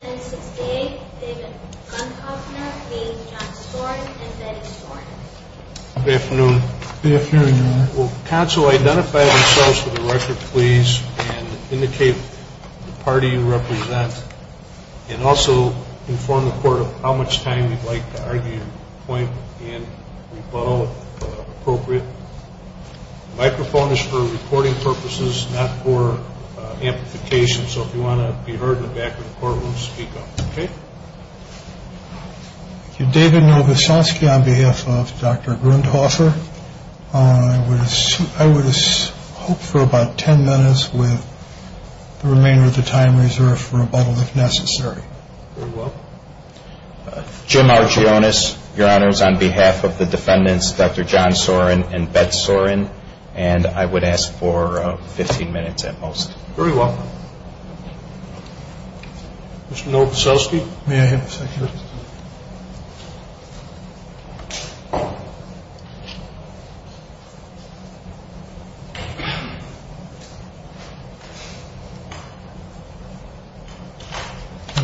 Good afternoon. Will counsel identify themselves for the record please and indicate the party you represent and also inform the court of how much time you would like to argue your point and rebuttal if appropriate. The microphone is for recording purposes not for amplification so if you want to be heard in the back of the courtroom speak up. David Novosansky on behalf of Dr. Grundhofer. I would hope for about 10 minutes with the remainder of the time reserved for rebuttal if necessary. Jim Argyonis your honors on behalf of the defendants Dr. John Sorin and Betz Sorin and I would ask for 15 minutes at most. Very well. Mr. Novosansky may I have a second. I'm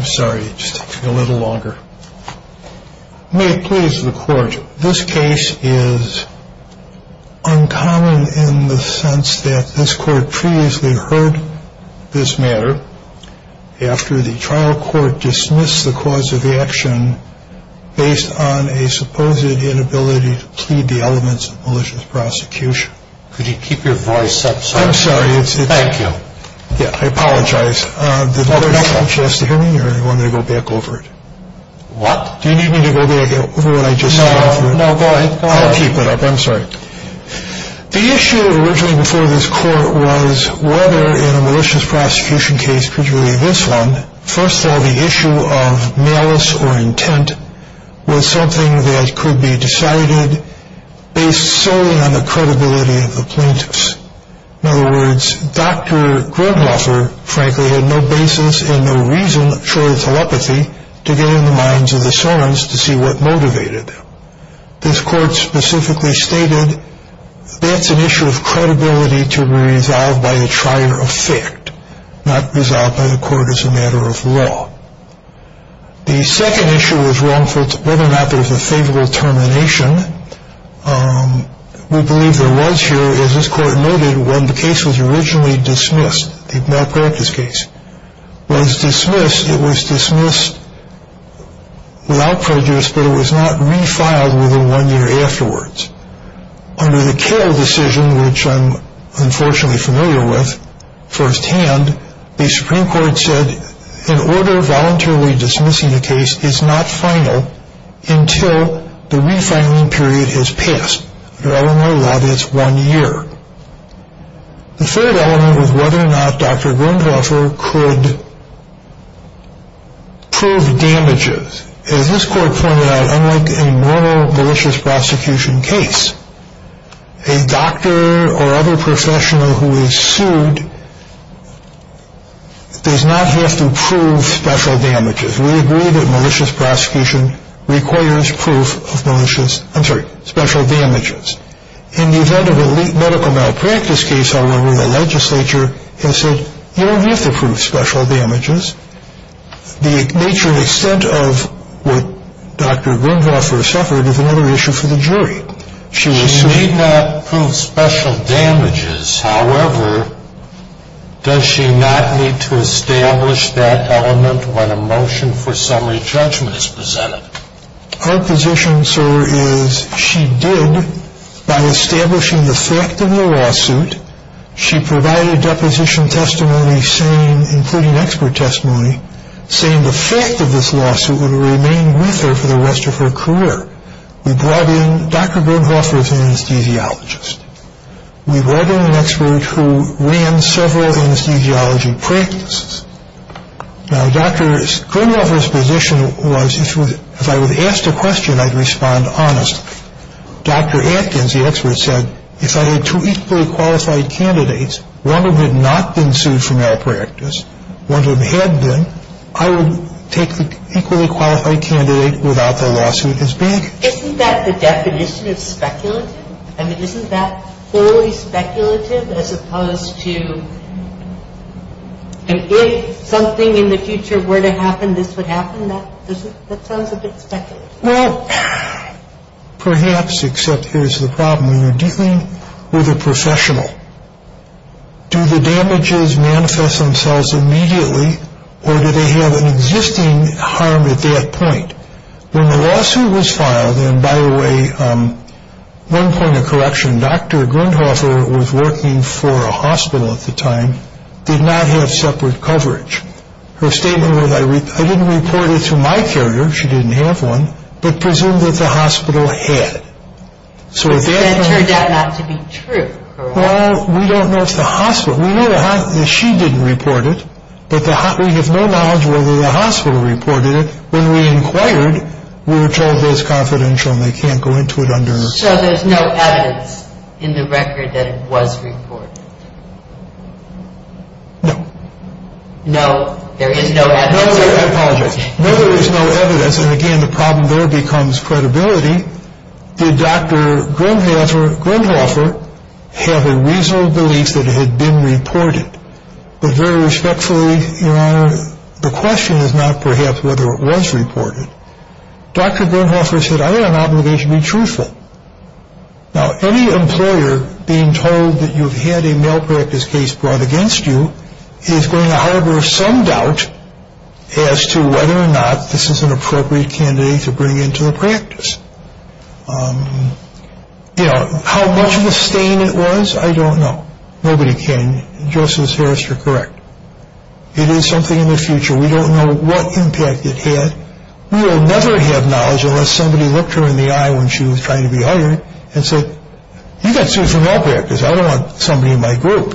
sorry just a little longer. May it please the court. This case is uncommon in the sense that this court previously heard this matter after the trial court dismissed the cause of the action based on a supposed inability to plead the elements of malicious prosecution. Could you keep your voice up. I'm sorry. Thank you. Yeah. I apologize for just hearing you or I want to go back over it. Do you need me to go back over what I just said? No. No. Go ahead. I'll keep it up. I'm sorry. The issue originally before this court was whether in a malicious prosecution case, particularly this one, first of all the issue of malice or intent was something that could be decided based solely on the credibility of the plaintiffs. In other words, Dr. Goldhofer, frankly, had no basis and no reason, short of telepathy, to get in the minds of the servants to see what motivated. This court specifically stated that's an issue of credibility to be resolved by a trier effect, not resolved by the court as a matter of law. The second issue was wrongful whether or not there was a favorable termination. We believe there was here, as this court noted, when the case was originally dismissed. They've not brought this case was dismissed. It was dismissed without prejudice, but it was not refiled within one year afterwards. Under the Cale decision, which I'm unfortunately familiar with firsthand, the Supreme Court said in order of voluntarily dismissing the case, it's not final until the refiling period has passed. I don't know that it's one year. The third element was whether or not Dr. Goldhofer could prove damages. As this court pointed out, unlike a normal malicious prosecution case, a doctor or other professional who is sued does not have to prove special damages. We agree that malicious prosecution requires proof of malicious, I'm sorry, special damages. In the event of a medical malpractice case, however, the legislature has said you don't have to prove special damages. The nature and extent of what Dr. Goldhofer suffered is another issue for the jury. She may not prove special damages, however, does she not need to establish that element when a motion for summary judgment is presented? Our position, sir, is she did, by establishing the fact of the lawsuit, she provided deposition testimony, including expert testimony, saying the fact of this lawsuit would remain with her for the rest of her career. Dr. Goldhofer is an anesthesiologist. We brought in an expert who ran several anesthesiology practices. Now, Dr. Goldhofer's position was if I was asked a question, I'd respond honestly. Dr. Atkins, the expert, said if I had two equally qualified candidates, one of them had not been sued for malpractice, one of them had been, I would take the equally qualified candidate without the lawsuit as big. Isn't that the definition of speculative? Isn't that fully speculative as opposed to if something in the future were to happen, this would happen? That sounds a bit speculative. Well, perhaps, except here's the problem. When you're dealing with a professional, do the damages manifest themselves immediately or do they have an existing harm at that point? When the lawsuit was filed, and by the way, one point of correction, Dr. Goldhofer was working for a hospital at the time, did not have separate coverage. Her statement was I didn't report it to my carrier, she didn't have one, but presumed that the hospital had. But it turned out not to be true. Well, we don't know if the hospital, we know she didn't report it, but we have no knowledge whether the hospital reported it. When we inquired, we were told it was confidential and they can't go into it under. So there's no evidence in the record that it was reported? No. No, there is no evidence. No, I apologize. No, there is no evidence. And again, the problem there becomes credibility. Did Dr. Goldhofer have a reasonable belief that it had been reported? Very respectfully, Your Honor, the question is not perhaps whether it was reported. Dr. Goldhofer said I have an obligation to be truthful. Now, any employer being told that you've had a malpractice case brought against you is going to harbor some doubt as to whether or not this is an appropriate candidate to bring into the practice. You know, how much of a stain it was, I don't know. Nobody can. Justice Harris, you're correct. It is something in the future. We don't know what impact it had. We will never have knowledge unless somebody looked her in the eye when she was trying to be hired and said, you got sued for malpractice. I don't want somebody in my group.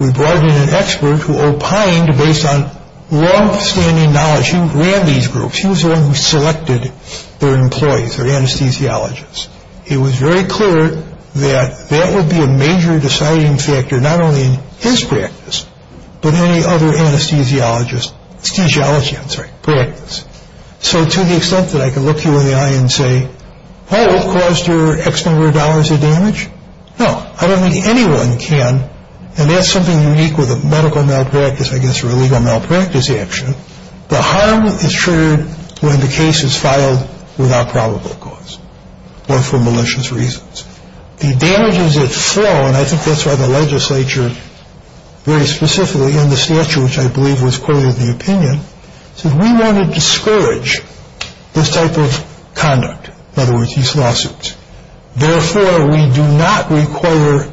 We brought in an expert who opined based on longstanding knowledge. He ran these groups. He was the one who selected their employees, their anesthesiologists. It was very clear that that would be a major deciding factor, not only in his practice, but any other anesthesiologist's practice. So to the extent that I can look you in the eye and say, oh, it caused her X number of dollars of damage? No. I don't think anyone can. And that's something unique with a medical malpractice, I guess, or a legal malpractice action. The harm is triggered when the case is filed without probable cause or for malicious reasons. The damages that flow, and I think that's why the legislature very specifically in the statute, which I believe was quoted in the opinion, said we want to discourage this type of conduct, in other words, these lawsuits. Therefore, we do not require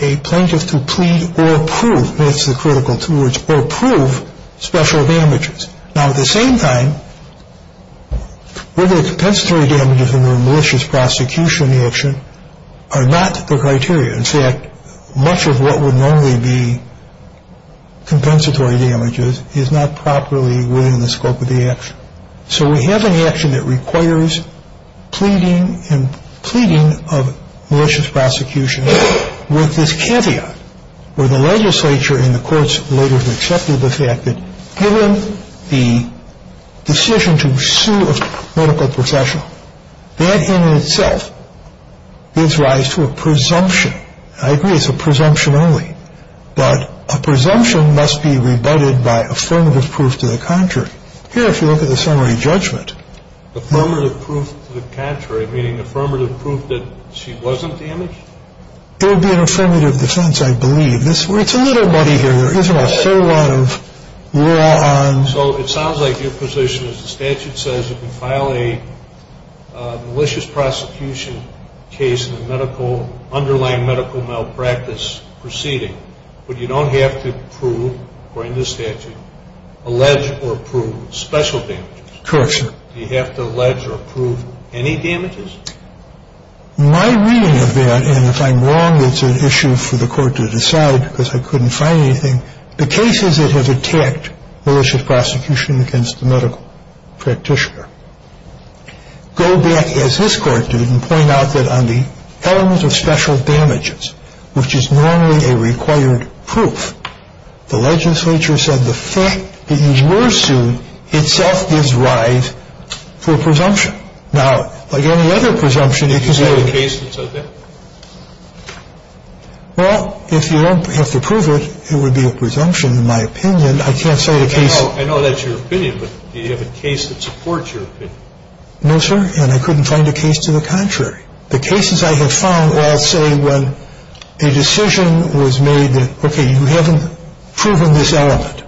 a plaintiff to plead or prove, that's the critical two words, or prove special damages. Now, at the same time, whether the compensatory damages in the malicious prosecution action are not the criteria. In fact, much of what would normally be compensatory damages is not properly within the scope of the action. So we have an action that requires pleading and pleading of malicious prosecution with this caveat, where the legislature and the courts later accepted the fact that given the decision to sue a medical professional, that in itself gives rise to a presumption. I agree it's a presumption only, but a presumption must be rebutted by affirmative proof to the contrary. Here, if you look at the summary judgment. Affirmative proof to the contrary, meaning affirmative proof that she wasn't damaged? It would be an affirmative defense, I believe. It's a little muddy here. There isn't a whole lot of law on. So it sounds like your position is the statute says you can file a malicious prosecution case in the underlying medical malpractice proceeding, but you don't have to prove, according to the statute, allege or prove special damages. Correct, sir. Do you have to allege or prove any damages? My reading of that, and if I'm wrong, it's an issue for the court to decide because I couldn't find anything. The cases that have attacked malicious prosecution against the medical practitioner go back, as this Court did, and point out that on the element of special damages, which is normally a required proof, the legislature said the fact that you were sued itself gives rise to a presumption. Now, like any other presumption, it can say. Is that a case that says that? Well, if you don't have to prove it, it would be a presumption, in my opinion. I can't say the case. I know that's your opinion, but do you have a case that supports your opinion? No, sir, and I couldn't find a case to the contrary. The cases I have found all say when a decision was made that, okay, you haven't proven this element,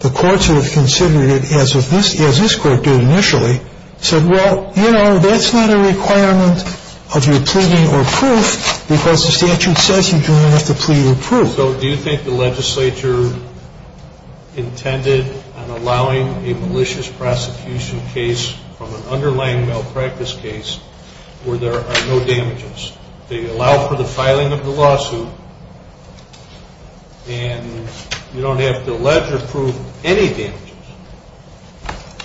the courts would have considered it, as this Court did initially, said, well, you know, that's not a requirement of your pleading or proof because the statute says you don't have to plead or prove. So do you think the legislature intended on allowing a malicious prosecution case from an underlying malpractice case where there are no damages? They allow for the filing of the lawsuit, and you don't have to allege or prove any damages.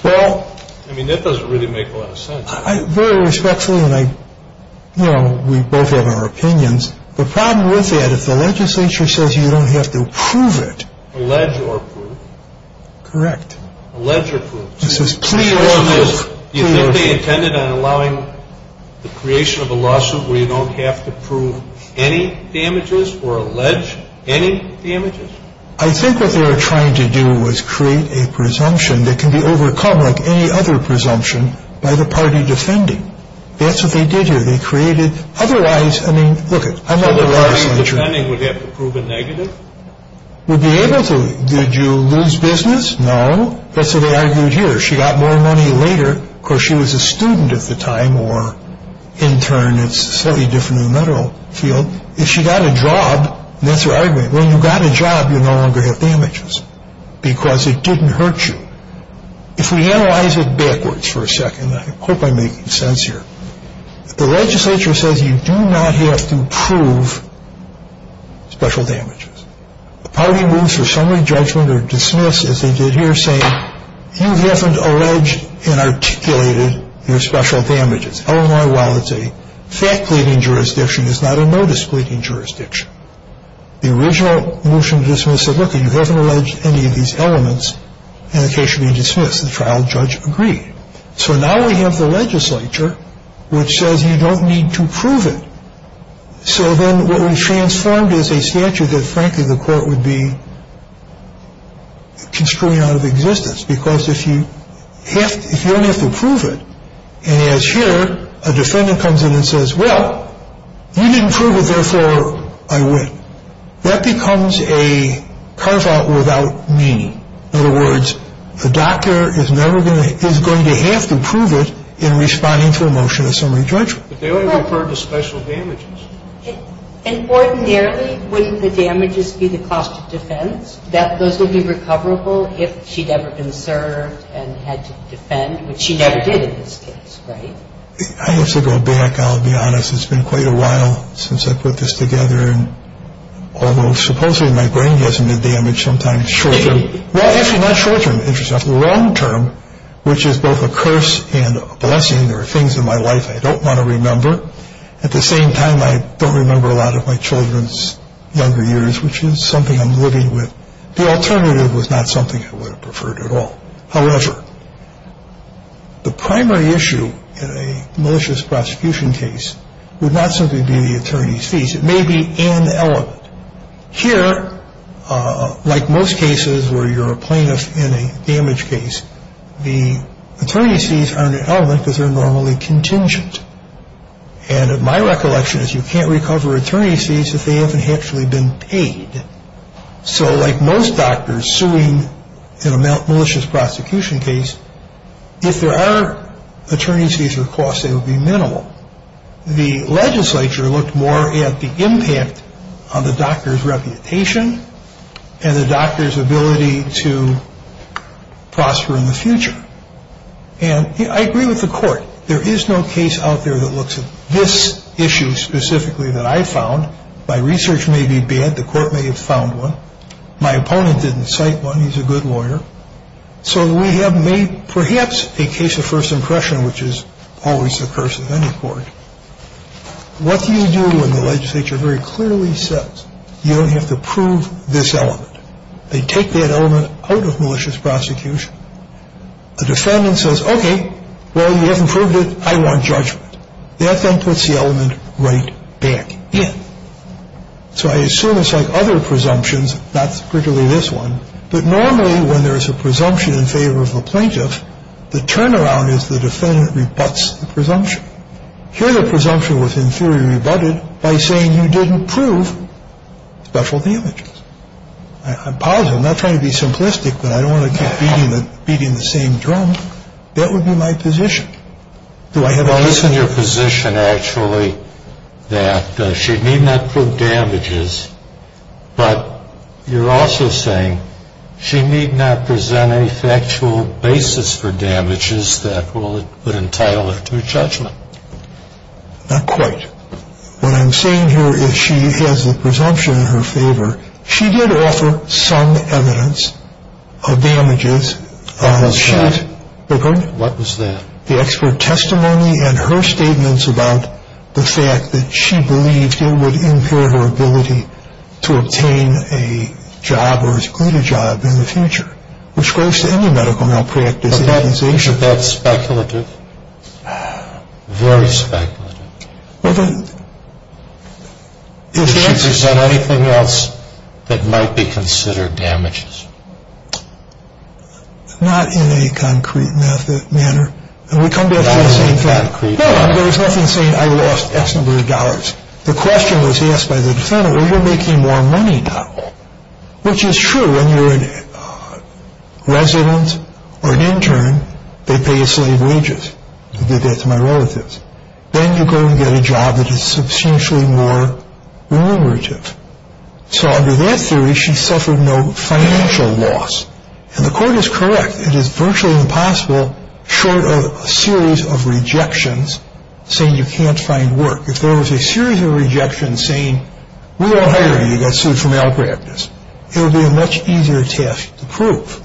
Well, I mean, that doesn't really make a lot of sense. Very respectfully, and, you know, we both have our opinions. The problem with that, if the legislature says you don't have to prove it. Correct. Allege or prove. This is clear evidence. You think they intended on allowing the creation of a lawsuit where you don't have to prove any damages or allege any damages? I think what they were trying to do was create a presumption that can be overcome like any other presumption by the party defending. That's what they did here. They created otherwise, I mean, look, I'm not the legislature. So the party defending would have to prove a negative? Would be able to. Did you lose business? No. That's what they argued here. She got more money later because she was a student at the time or in turn it's a slightly different in the federal field. If she got a job, that's her argument. When you got a job, you no longer have damages because it didn't hurt you. If we analyze it backwards for a second, I hope I'm making sense here. The legislature says you do not have to prove special damages. The party moves for summary judgment or dismiss as they did here saying you haven't alleged and articulated your special damages. Illinois, while it's a fact-cleaving jurisdiction, it's not a notice-cleaving jurisdiction. The original motion to dismiss said, look, you haven't alleged any of these elements and the case should be dismissed. The trial judge agreed. So now we have the legislature which says you don't need to prove it. So then what we've transformed is a statute that, frankly, the court would be construing out of existence because if you only have to prove it, and as here a defendant comes in and says, well, you didn't prove it, therefore I win. That becomes a carve-out without meaning. In other words, the doctor is going to have to prove it in responding to a motion of summary judgment. But they only refer to special damages. And ordinarily, wouldn't the damages be the cost of defense, that those would be recoverable if she'd ever been served and had to defend, which she never did in this case, right? I have to go back. I'll be honest. It's been quite a while since I put this together. And although supposedly my brain hasn't been damaged sometimes short-term, well, actually not short-term, interesting enough, long-term, which is both a curse and a blessing. There are things in my life I don't want to remember. At the same time, I don't remember a lot of my children's younger years, which is something I'm living with. The alternative was not something I would have preferred at all. However, the primary issue in a malicious prosecution case would not simply be the attorney's fees. It may be an element. Here, like most cases where you're a plaintiff in a damage case, the attorney's fees aren't an element because they're normally contingent. And my recollection is you can't recover attorney's fees if they haven't actually been paid. So like most doctors suing in a malicious prosecution case, if there are attorney's fees or costs, they would be minimal. The legislature looked more at the impact on the doctor's reputation and the doctor's ability to prosper in the future. And I agree with the court. There is no case out there that looks at this issue specifically that I found. My research may be bad. The court may have found one. My opponent didn't cite one. He's a good lawyer. So we have made perhaps a case of first impression, which is always the curse of any court. What do you do when the legislature very clearly says you don't have to prove this element? They take that element out of malicious prosecution. The defendant says, okay, well, you haven't proved it. I want judgment. That then puts the element right back in. So I assume it's like other presumptions, not particularly this one, but normally when there is a presumption in favor of a plaintiff, the turnaround is the defendant rebuts the presumption. Here the presumption was in theory rebutted by saying you didn't prove special damages. I'm positive. I'm not trying to be simplistic, but I don't want to keep beating the same drum. That would be my position. Do I have a position? Well, this is your position, actually, that she need not prove damages, but you're also saying she need not present any factual basis for damages that would entitle her to judgment. Not quite. What I'm saying here is she has a presumption in her favor. She did offer some evidence of damages. What was that? The expert testimony and her statements about the fact that she believed it would impair her ability to obtain a job or a greater job in the future, which goes to any medical malpractice organization. But isn't that speculative? Very speculative. Is she present anything else that might be considered damages? Not in a concrete manner. And we come back to the same thing. Not in a concrete manner. No, there is nothing saying I lost X number of dollars. The question was asked by the defendant, well, you're making more money now, which is true. When you're a resident or an intern, they pay you slave wages. I did that to my relatives. Then you go and get a job that is substantially more remunerative. So under that theory, she suffered no financial loss. And the court is correct. It is virtually impossible short of a series of rejections saying you can't find work. If there was a series of rejections saying we don't hire you, you got sued for malpractice, it would be a much easier task to prove.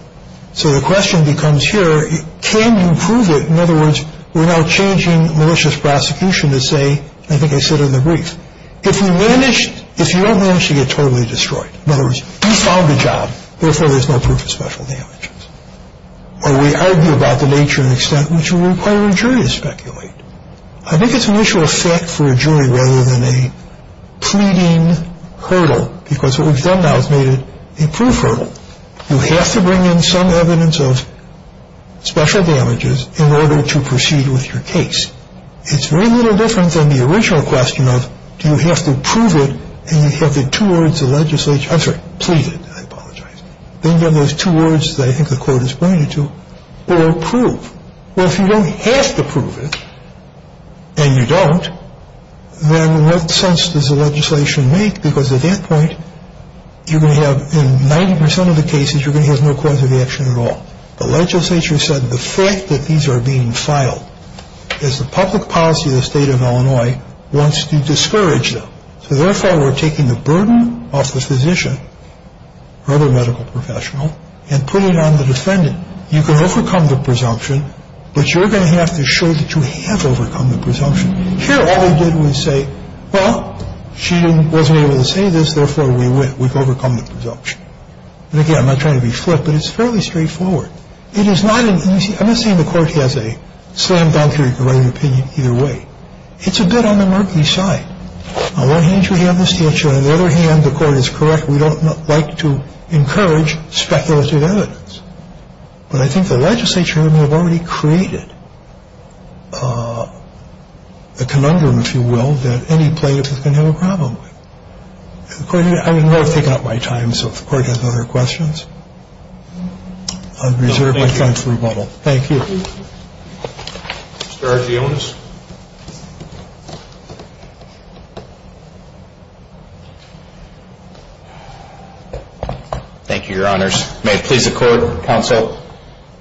So the question becomes here, can you prove it? In other words, we're now changing malicious prosecution to say, I think I said it in the brief, if you don't manage to get totally destroyed, in other words, you found a job, therefore there's no proof of special damages. Or we argue about the nature and extent, which would require a jury to speculate. I think it's an issue of fact for a jury rather than a pleading hurdle, because what we've done now is made it a proof hurdle. You have to bring in some evidence of special damages in order to proceed with your case. It's very little different than the original question of do you have to prove it and you have the two words of legislation, I'm sorry, plead it, I apologize. Then there's two words that I think the court has pointed to, or prove. Well, if you don't have to prove it and you don't, then what sense does the legislation make? Because at that point, you're going to have, in 90% of the cases, you're going to have no cause of action at all. The legislature said the fact that these are being filed is the public policy of the state of Illinois wants to discourage them. So therefore, we're taking the burden off the physician or other medical professional and putting it on the defendant. Now, you can overcome the presumption, but you're going to have to show that you have overcome the presumption. Here, all we did was say, well, she wasn't able to say this, therefore, we win. We've overcome the presumption. And again, I'm not trying to be flip, but it's fairly straightforward. It is not an easy – I'm not saying the court has a slam dunk or you can write an opinion either way. It's a bit on the murky side. On one hand, you have the statute. On the other hand, the court is correct. We don't like to encourage speculative evidence. But I think the legislature may have already created a conundrum, if you will, that any plaintiff is going to have a problem with. I know I've taken up my time, so if the court has other questions, I'll reserve my time for rebuttal. Thank you. Mr. Arzionis. Thank you, Your Honors. May it please the Court, Counsel.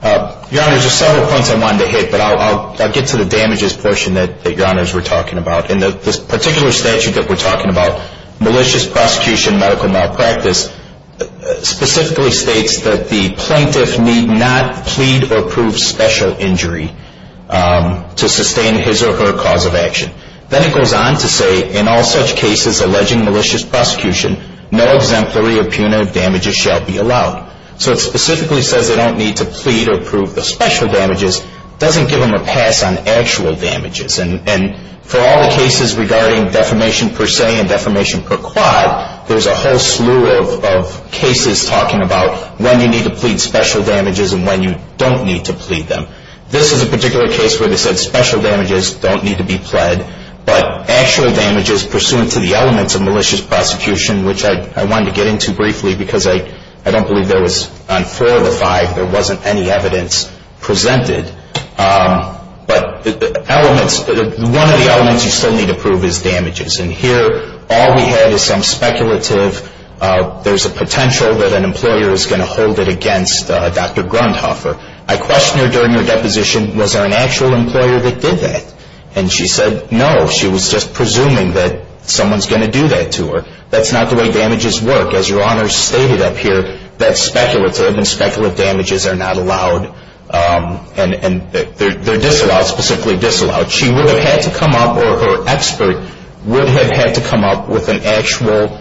Your Honors, there are several points I wanted to hit, but I'll get to the damages portion that Your Honors were talking about. In this particular statute that we're talking about, malicious prosecution medical malpractice, specifically states that the plaintiff need not plead or prove special injury to sustain his or her cause of action. Then it goes on to say, in all such cases alleging malicious prosecution, no exemplary or punitive damages shall be allowed. So it specifically says they don't need to plead or prove the special damages. It doesn't give them a pass on actual damages. And for all the cases regarding defamation per se and defamation per quad, there's a whole slew of cases talking about when you need to plead special damages and when you don't need to plead them. This is a particular case where they said special damages don't need to be pled, but actual damages pursuant to the elements of malicious prosecution, which I wanted to get into briefly because I don't believe there was, on four of the five, there wasn't any evidence presented. But one of the elements you still need to prove is damages. And here all we have is some speculative there's a potential that an employer is going to hold it against Dr. Grundhofer. I questioned her during her deposition, was there an actual employer that did that? And she said no, she was just presuming that someone's going to do that to her. That's not the way damages work. As Your Honor stated up here, that's speculative and speculative damages are not allowed and they're disallowed, specifically disallowed. She would have had to come up or her expert would have had to come up with an actual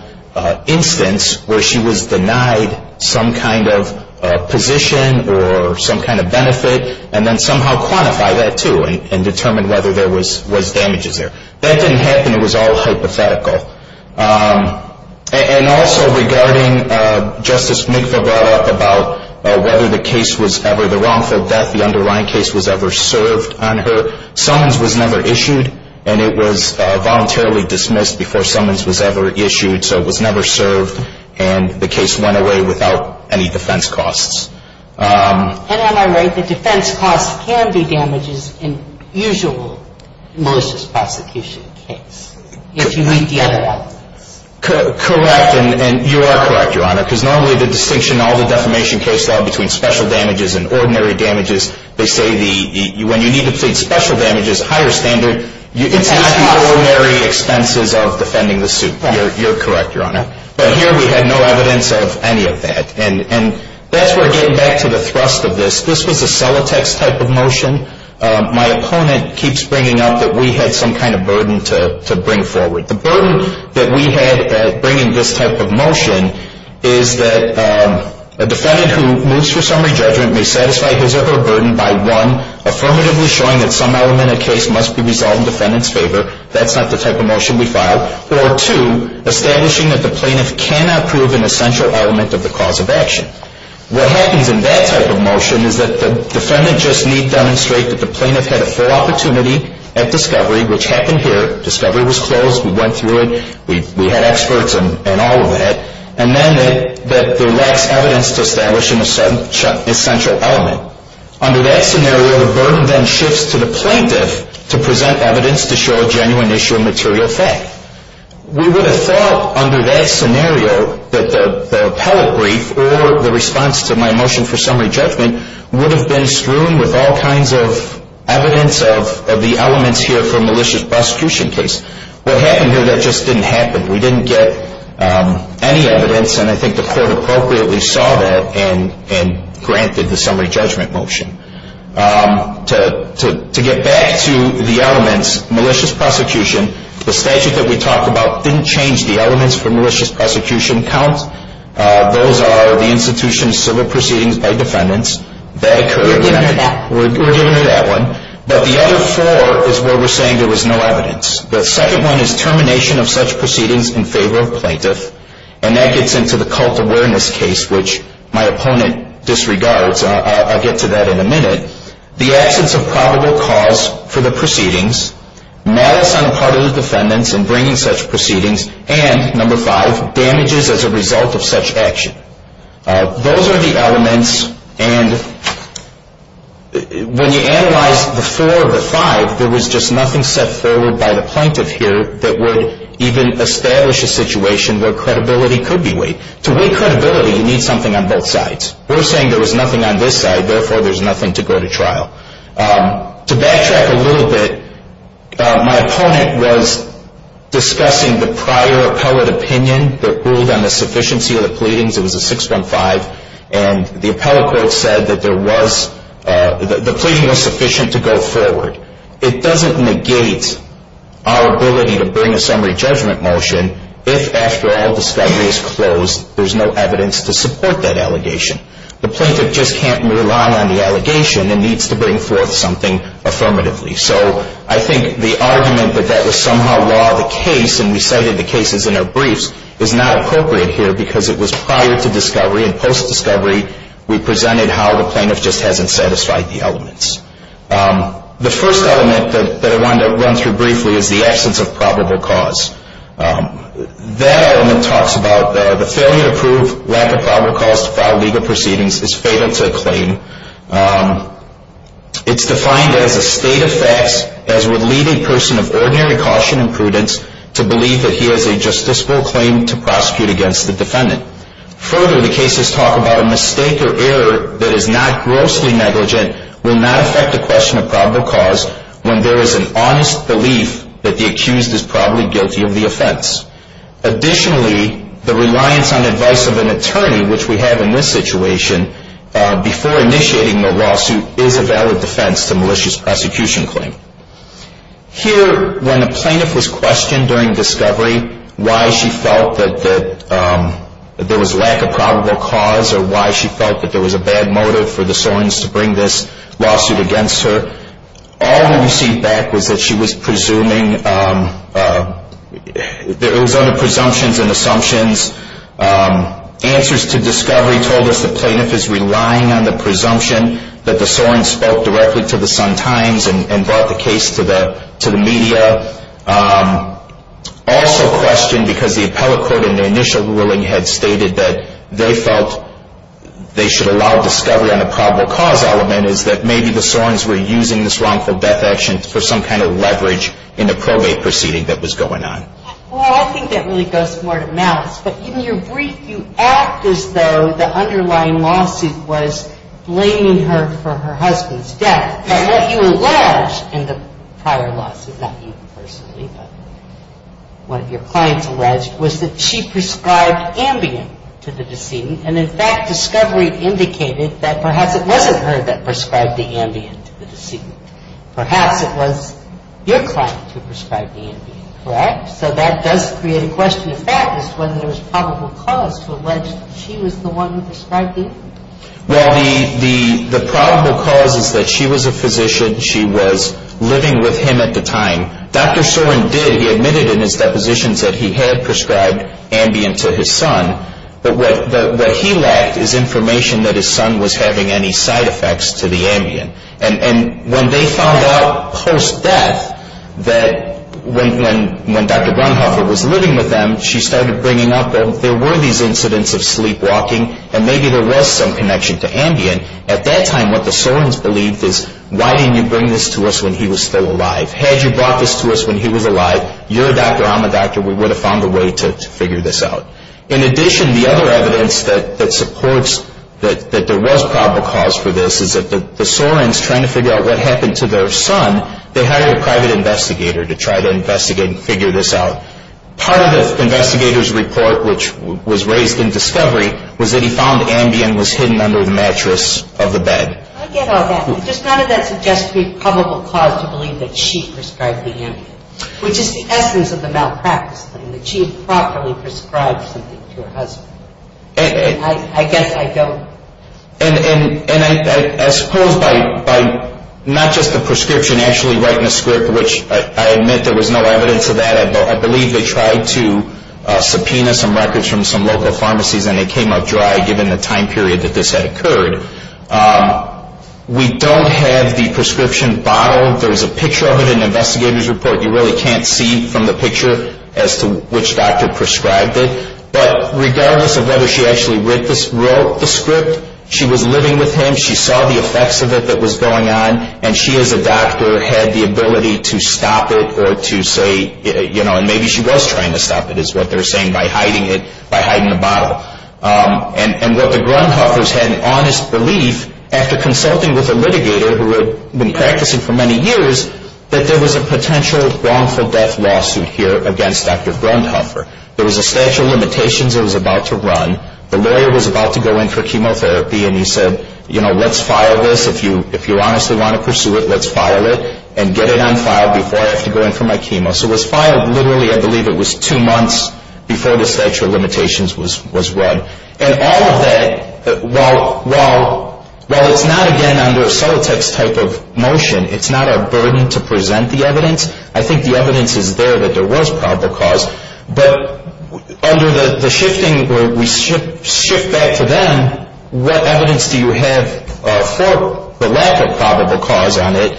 instance where she was denied some kind of position or some kind of benefit and then somehow quantify that too and determine whether there was damages there. That didn't happen. It was all hypothetical. And also regarding Justice McVeigh brought up about whether the case was ever the wrongful death, the underlying case was ever served on her. Summons was never issued and it was voluntarily dismissed before summons was ever issued so it was never served and the case went away without any defense costs. And am I right that defense costs can be damages in usual malicious prosecution case if you read the other evidence? Correct and you are correct, Your Honor, because normally the distinction all the defamation cases have between special damages and ordinary damages, they say when you need to plead special damages, higher standard, it's not the ordinary expenses of defending the suit. You're correct, Your Honor, but here we have no evidence of any of that and that's where we're getting back to the thrust of this. This was a Celotex type of motion. My opponent keeps bringing up that we had some kind of burden to bring forward. The burden that we had bringing this type of motion is that a defendant who moves for summary judgment may satisfy his or her burden by one, affirmatively showing that some element of the case must be resolved in defendant's favor, that's not the type of motion we filed, or two, establishing that the plaintiff cannot prove an essential element of the cause of action. What happens in that type of motion is that the defendant just need demonstrate that the plaintiff had a full opportunity at discovery, which happened here, discovery was closed, we went through it, we had experts and all of that, and then that there lacks evidence to establish an essential element. Under that scenario, the burden then shifts to the plaintiff to present evidence to show a genuine issue of material fact. We would have thought under that scenario that the appellate brief or the response to my motion for summary judgment would have been strewn with all kinds of evidence of the elements here for a malicious prosecution case. What happened here, that just didn't happen. We didn't get any evidence, and I think the court appropriately saw that and granted the summary judgment motion. To get back to the elements, malicious prosecution, the statute that we talked about didn't change the elements for malicious prosecution count. Those are the institution of civil proceedings by defendants. We're giving you that one. But the other four is where we're saying there was no evidence. The second one is termination of such proceedings in favor of plaintiff, and that gets into the cult awareness case, which my opponent disregards. I'll get to that in a minute. The absence of probable cause for the proceedings, malice on the part of the defendants in bringing such proceedings, and number five, damages as a result of such action. Those are the elements, and when you analyze the four or the five, there was just nothing set forward by the plaintiff here that would even establish a situation where credibility could be weighed. To weigh credibility, you need something on both sides. We're saying there was nothing on this side, therefore there's nothing to go to trial. To backtrack a little bit, my opponent was discussing the prior appellate opinion that ruled on the sufficiency of the pleadings. It was a 615, and the appellate court said that the pleading was sufficient to go forward. It doesn't negate our ability to bring a summary judgment motion if after all discovery is closed there's no evidence to support that allegation. The plaintiff just can't rely on the allegation and needs to bring forth something affirmatively. So I think the argument that that was somehow law of the case, and we cited the cases in our briefs, is not appropriate here because it was prior to discovery and post-discovery we presented how the plaintiff just hasn't satisfied the elements. The first element that I wanted to run through briefly is the absence of probable cause. That element talks about the failure to prove lack of probable cause to file legal proceedings is fatal to a claim. It's defined as a state of facts as would lead a person of ordinary caution and prudence to believe that he has a justiciable claim to prosecute against the defendant. Further, the cases talk about a mistake or error that is not grossly negligent, will not affect the question of probable cause when there is an honest belief that the accused is probably guilty of the offense. Additionally, the reliance on advice of an attorney, which we have in this situation, before initiating the lawsuit is a valid defense to malicious prosecution claim. Here, when the plaintiff was questioned during discovery, why she felt that there was lack of probable cause or why she felt that there was a bad motive for the Sorens to bring this lawsuit against her, all we received back was that she was presuming, it was under presumptions and assumptions. Answers to discovery told us the plaintiff is relying on the presumption that the Sorens spoke directly to the Sun-Times and brought the case to the media. Also questioned, because the appellate court in the initial ruling had stated that they felt they should allow discovery on a probable cause element, is that maybe the Sorens were using this wrongful death action for some kind of leverage in the probate proceeding that was going on. Well, I think that really goes more to malice. But in your brief, you act as though the underlying lawsuit was blaming her for her husband's death. But what you allege in the prior lawsuit, not you personally, but what your clients alleged was that she prescribed Ambien to the decedent. And in fact, discovery indicated that perhaps it wasn't her that prescribed the Ambien to the decedent. Perhaps it was your client who prescribed the Ambien, correct? So that does create a question. The fact is whether there was probable cause to allege she was the one who prescribed the Ambien. Well, the probable cause is that she was a physician. She was living with him at the time. Dr. Soren did. He admitted in his depositions that he had prescribed Ambien to his son. But what he lacked is information that his son was having any side effects to the Ambien. And when they found out post-death that when Dr. Brunhofer was living with them, she started bringing up that there were these incidents of sleepwalking, and maybe there was some connection to Ambien. At that time, what the Sorens believed is, why didn't you bring this to us when he was still alive? Had you brought this to us when he was alive, you're a doctor, I'm a doctor, we would have found a way to figure this out. In addition, the other evidence that supports that there was probable cause for this is that the Sorens, trying to figure out what happened to their son, they hired a private investigator to try to investigate and figure this out. Part of the investigator's report, which was raised in discovery, was that he found Ambien was hidden under the mattress of the bed. I get all that. But does none of that suggest a probable cause to believe that she prescribed the Ambien, which is the essence of the malpractice thing, that she had properly prescribed something to her husband. I guess I don't. And I suppose by not just the prescription actually writing the script, which I admit there was no evidence of that. I believe they tried to subpoena some records from some local pharmacies and they came up dry given the time period that this had occurred. We don't have the prescription bottle. There's a picture of it in an investigator's report. You really can't see from the picture as to which doctor prescribed it. But regardless of whether she actually wrote the script, she was living with him, she saw the effects of it that was going on, and she as a doctor had the ability to stop it or to say, you know, and maybe she was trying to stop it is what they're saying by hiding the bottle. And what the Grundhoffers had an honest belief, after consulting with a litigator who had been practicing for many years, that there was a potential wrongful death lawsuit here against Dr. Grundhoffer. There was a statute of limitations that was about to run. The lawyer was about to go in for chemotherapy and he said, you know, let's file this. If you honestly want to pursue it, let's file it and get it unfiled before I have to go in for my chemo. So it was filed literally I believe it was two months before the statute of limitations was run. And all of that, while it's not, again, under a Solotex type of motion, it's not a burden to present the evidence. I think the evidence is there that there was probable cause. But under the shifting where we shift back to them, what evidence do you have for the lack of probable cause on it?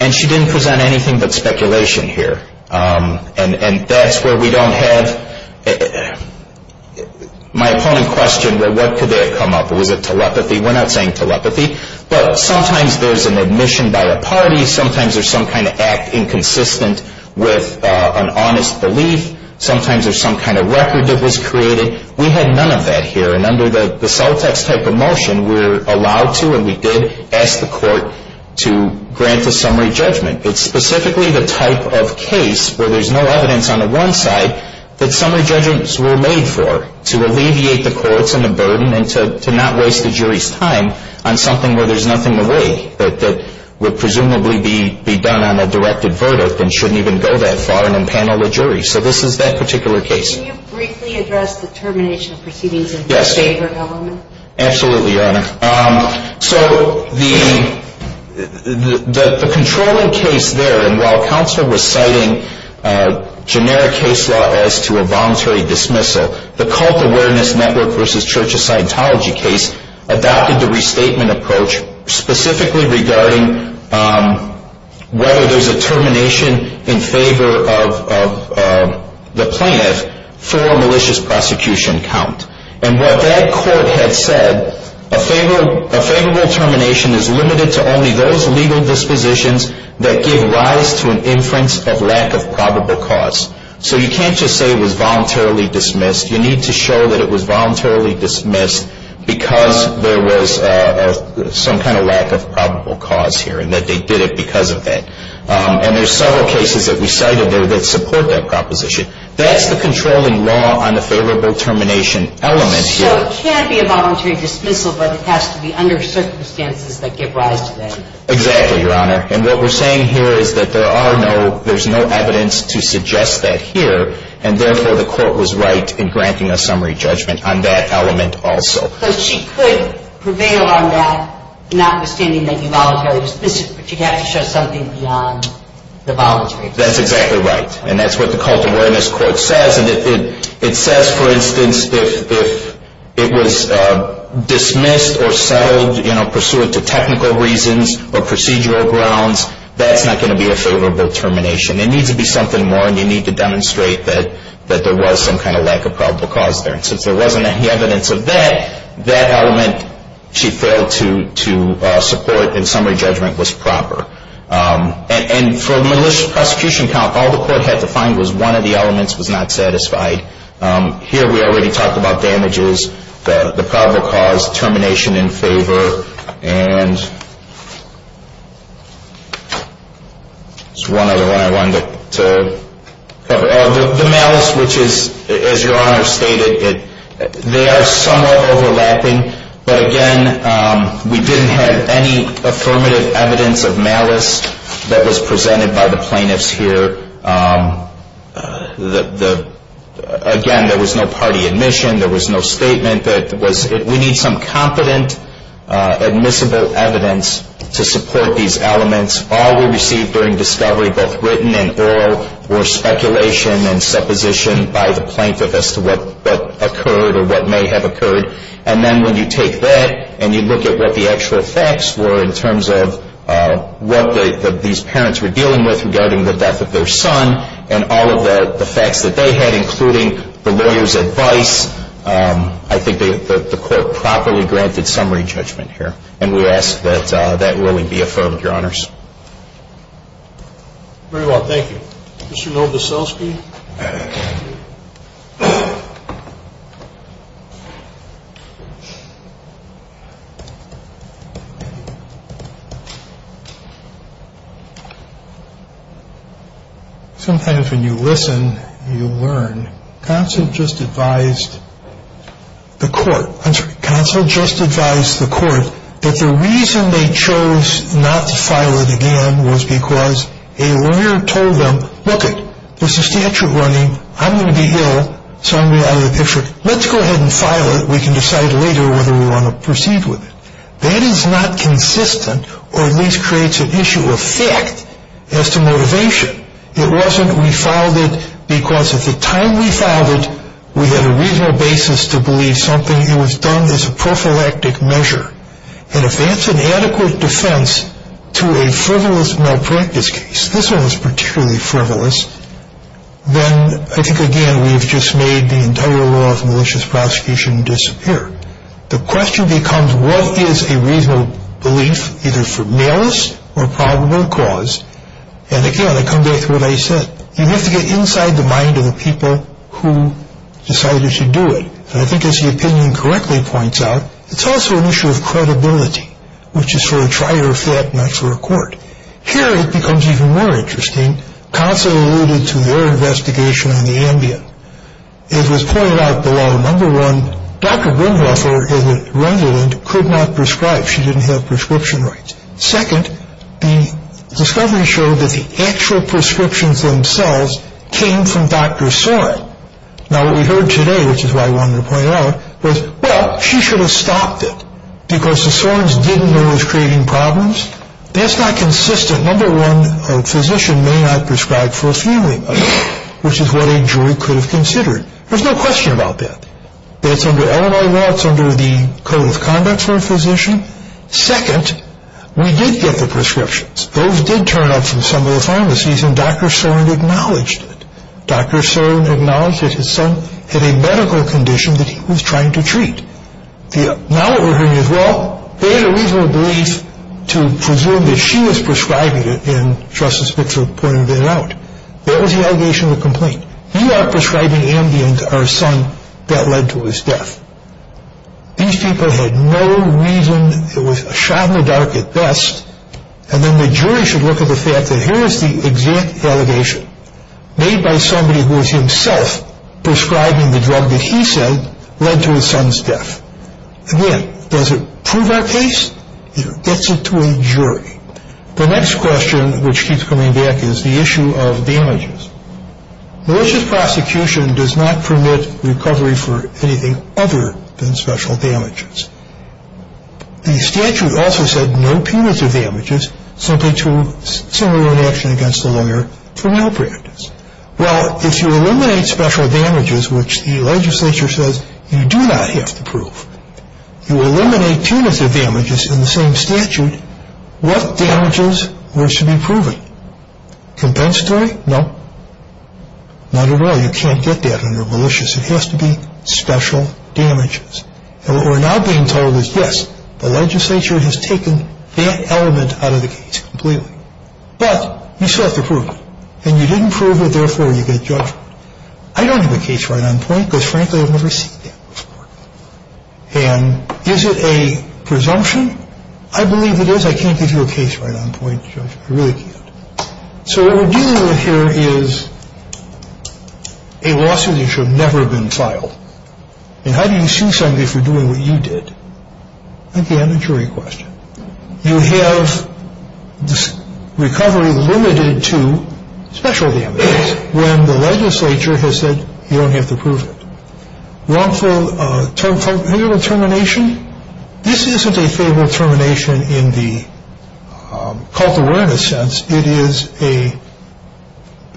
And she didn't present anything but speculation here. And that's where we don't have my opponent questioned, well, what could there have come up? Was it telepathy? We're not saying telepathy. But sometimes there's an admission by a party. Sometimes there's some kind of act inconsistent with an honest belief. Sometimes there's some kind of record that was created. We had none of that here. And under the Solotex type of motion, we're allowed to and we did ask the court to grant the summary judgment. It's specifically the type of case where there's no evidence on the one side that summary judgments were made for to alleviate the courts and the burden and to not waste the jury's time on something where there's nothing to weigh, that would presumably be done on a directed verdict and shouldn't even go that far and empanel the jury. So this is that particular case. Can you briefly address the termination of proceedings in your favor, Your Honor? Yes. Absolutely, Your Honor. So the controlling case there, and while counsel was citing generic case law as to a voluntary dismissal, the Cult Awareness Network v. Church of Scientology case adopted the restatement approach specifically regarding whether there's a termination in favor of the plant for a malicious prosecution count. And what that court had said, a favorable termination is limited to only those legal dispositions that give rise to an inference of lack of probable cause. So you can't just say it was voluntarily dismissed. You need to show that it was voluntarily dismissed because there was some kind of lack of probable cause here and that they did it because of that. And there's several cases that we cited there that support that proposition. That's the controlling law on the favorable termination element here. So it can't be a voluntary dismissal, but it has to be under circumstances that give rise to that. Exactly, Your Honor. And what we're saying here is that there's no evidence to suggest that here, and therefore the court was right in granting a summary judgment on that element also. But she could prevail on that notwithstanding that you voluntarily dismissed it, but you'd have to show something beyond the voluntary dismissal. That's exactly right, and that's what the Cult Awareness Court says. And it says, for instance, if it was dismissed or settled, you know, pursuant to technical reasons or procedural grounds, that's not going to be a favorable termination. It needs to be something more, and you need to demonstrate that there was some kind of lack of probable cause there. And since there wasn't any evidence of that, that element she failed to support in summary judgment was proper. And for the malicious prosecution count, all the court had to find was one of the elements was not satisfied. Here we already talked about damages, the probable cause, termination in favor, and there's one other one I wanted to cover. The malice, which is, as Your Honor stated, they are somewhat overlapping. But again, we didn't have any affirmative evidence of malice that was presented by the plaintiffs here. Again, there was no party admission. There was no statement. We need some competent, admissible evidence to support these elements. All we received during discovery, both written and oral, were speculation and supposition by the plaintiff as to what occurred or what may have occurred. And then when you take that and you look at what the actual facts were in terms of what these parents were dealing with regarding the death of their son and all of the facts that they had, including the lawyer's advice, I think the court properly granted summary judgment here. And we ask that that ruling be affirmed, Your Honors. Very well, thank you. Mr. Novoselsky? Sometimes when you listen, you learn. Counsel just advised the court that the reason they chose not to file it again was because a lawyer told them, look, there's a statute running, I'm going to be ill, so I'm going to be out of the picture. Let's go ahead and file it. We can decide later whether we want to proceed with it. That is not consistent or at least creates an issue of fact as to motivation. It wasn't we filed it because at the time we filed it, we had a reasonable basis to believe something. It was done as a prophylactic measure. And if that's an adequate defense to a frivolous malpractice case, this one was particularly frivolous, then I think, again, we've just made the entire law of malicious prosecution disappear. The question becomes what is a reasonable belief, either for malice or probable cause. And, again, I come back to what I said. You have to get inside the mind of the people who decided to do it. And I think, as the opinion correctly points out, it's also an issue of credibility, which is for a trier of fact, not for a court. Here it becomes even more interesting. Consul alluded to their investigation on the Ambien. It was pointed out below. Number one, Dr. Brimwaffle, as a resident, could not prescribe. She didn't have prescription rights. Second, the discovery showed that the actual prescriptions themselves came from Dr. Soren. Now, what we heard today, which is what I wanted to point out, was, well, she should have stopped it because the Sorens didn't know it was creating problems. That's not consistent. Number one, a physician may not prescribe for a few weeks, which is what a jury could have considered. There's no question about that. That's under Illinois law. It's under the Code of Conduct for a physician. Second, we did get the prescriptions. Those did turn up from some of the pharmacies, and Dr. Soren acknowledged it. Dr. Soren acknowledged that his son had a medical condition that he was trying to treat. Now what we're hearing is, well, they had a reasonable belief to presume that she was prescribing it, and Justice Bixler pointed that out. That was the allegation of the complaint. You are prescribing Ambien to our son. That led to his death. These people had no reason. It was a shot in the dark at best, and then the jury should look at the fact that here is the exact allegation made by somebody who was himself prescribing the drug that he said led to his son's death. Again, does it prove our case? It gets it to a jury. The next question, which keeps coming back, is the issue of damages. Malicious prosecution does not permit recovery for anything other than special damages. The statute also said no punitive damages simply to simulate an action against the lawyer for malpractice. Well, if you eliminate special damages, which the legislature says you do not have to prove, you eliminate punitive damages in the same statute, what damages were to be proven? Compensatory? No. Not at all. You can't get that under malicious. It has to be special damages. And what we're now being told is, yes, the legislature has taken that element out of the case completely. But you still have to prove it. And you didn't prove it, therefore you get judgment. I don't have a case right on point because, frankly, I've never seen that before. And is it a presumption? I believe it is. I can't give you a case right on point, Judge. I really can't. So what we're dealing with here is a lawsuit that should have never been filed. And how do you sue somebody for doing what you did? Again, a jury question. You have this recovery limited to special damages when the legislature has said you don't have to prove it. Wrongful federal termination? This isn't a favorable termination in the cult awareness sense. It is a,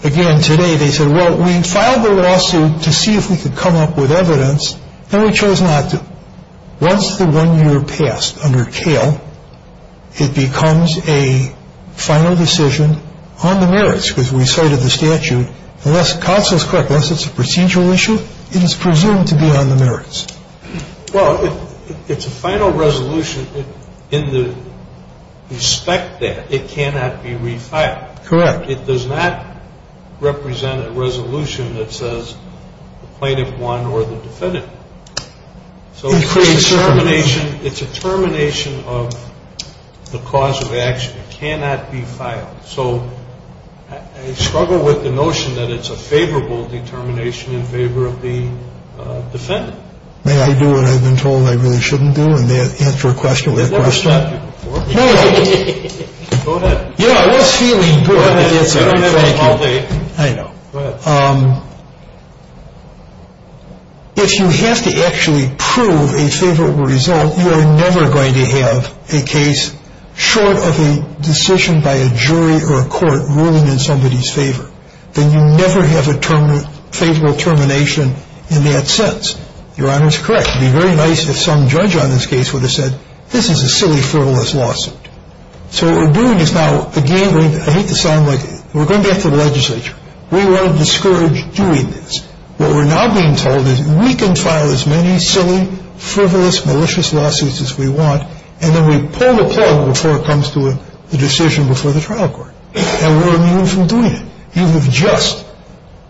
again, today they said, well, we filed the lawsuit to see if we could come up with evidence, and we chose not to. Once the one year passed under Kale, it becomes a final decision on the merits because we cited the statute. Unless Codd says correct, unless it's a procedural issue, it is presumed to be on the merits. Well, it's a final resolution in the respect that it cannot be refiled. Correct. It does not represent a resolution that says the plaintiff won or the defendant. So it's a termination of the cause of action. It cannot be filed. So I struggle with the notion that it's a favorable determination in favor of the defendant. May I do what I've been told I really shouldn't do and answer a question with a question? Go ahead. Yeah, I was feeling good. I know. Go ahead. If you have to actually prove a favorable result, you are never going to have a case short of a decision by a jury or a court ruling in somebody's favor. Then you never have a favorable termination in that sense. Your Honor is correct. It would be very nice if some judge on this case would have said this is a silly, frivolous lawsuit. So what we're doing is now, again, I hate to sound like it, we're going back to the legislature. We want to discourage doing this. What we're now being told is we can file as many silly, frivolous, malicious lawsuits as we want, and then we pull the plug before it comes to a decision before the trial court. And we're immune from doing it. You have just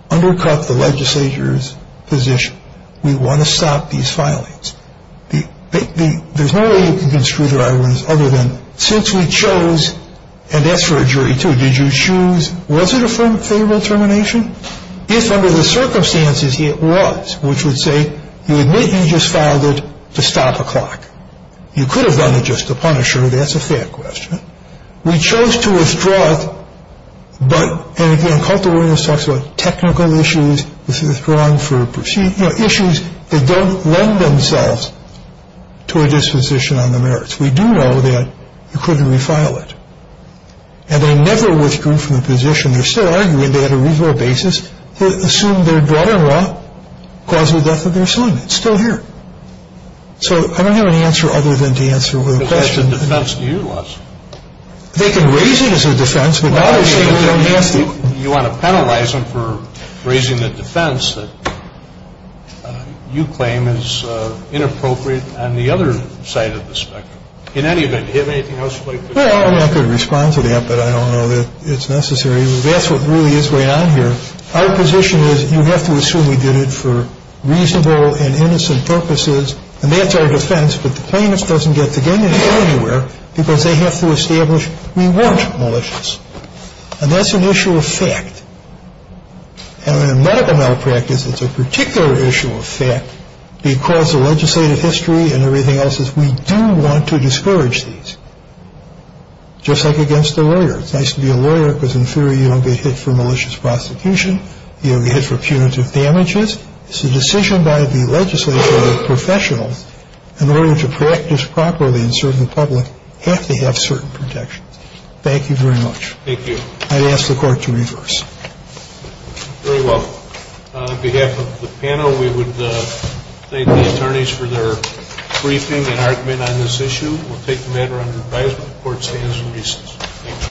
undercut the legislature's position. We want to stop these filings. There's no way you can construe the rivalries other than since we chose, and that's for a jury too, did you choose, was it a favorable termination? If under the circumstances it was, which would say you admit you just filed it to stop a clock. You could have done it just to punish her. That's a fair question. We chose to withdraw it, but, and again, cultural awareness talks about technical issues, withdrawing for proceedings, you know, issues that don't lend themselves to a disposition on the merits. We do know that you couldn't refile it. And they never withdrew from the position. They're still arguing they had a reasonable basis to assume their daughter-in-law caused the death of their son. It's still here. So I don't have an answer other than to answer the question. Because that's the defense to your lawsuit. They can raise it as a defense, but now they're saying we don't have to. You want to penalize them for raising the defense that you claim is inappropriate on the other side of the spectrum. In any event, do you have anything else you'd like to say? Well, I'm not going to respond to that, but I don't know that it's necessary. That's what really is going on here. Our position is you have to assume we did it for reasonable and innocent purposes. And that's our defense. But the plaintiff doesn't get to go anywhere because they have to establish we weren't malicious. And that's an issue of fact. And in medical malpractice, it's a particular issue of fact. Because of legislative history and everything else, we do want to discourage these. Just like against a lawyer. It's nice to be a lawyer because, in theory, you don't get hit for malicious prosecution. You don't get hit for punitive damages. It's a decision by the legislative professional. In order to practice properly in serving the public, you have to have certain protections. Thank you very much. Thank you. I'd ask the Court to reverse. Very well. On behalf of the panel, we would thank the attorneys for their briefing and argument on this issue. We'll take the matter under advisement. The Court stands in recess.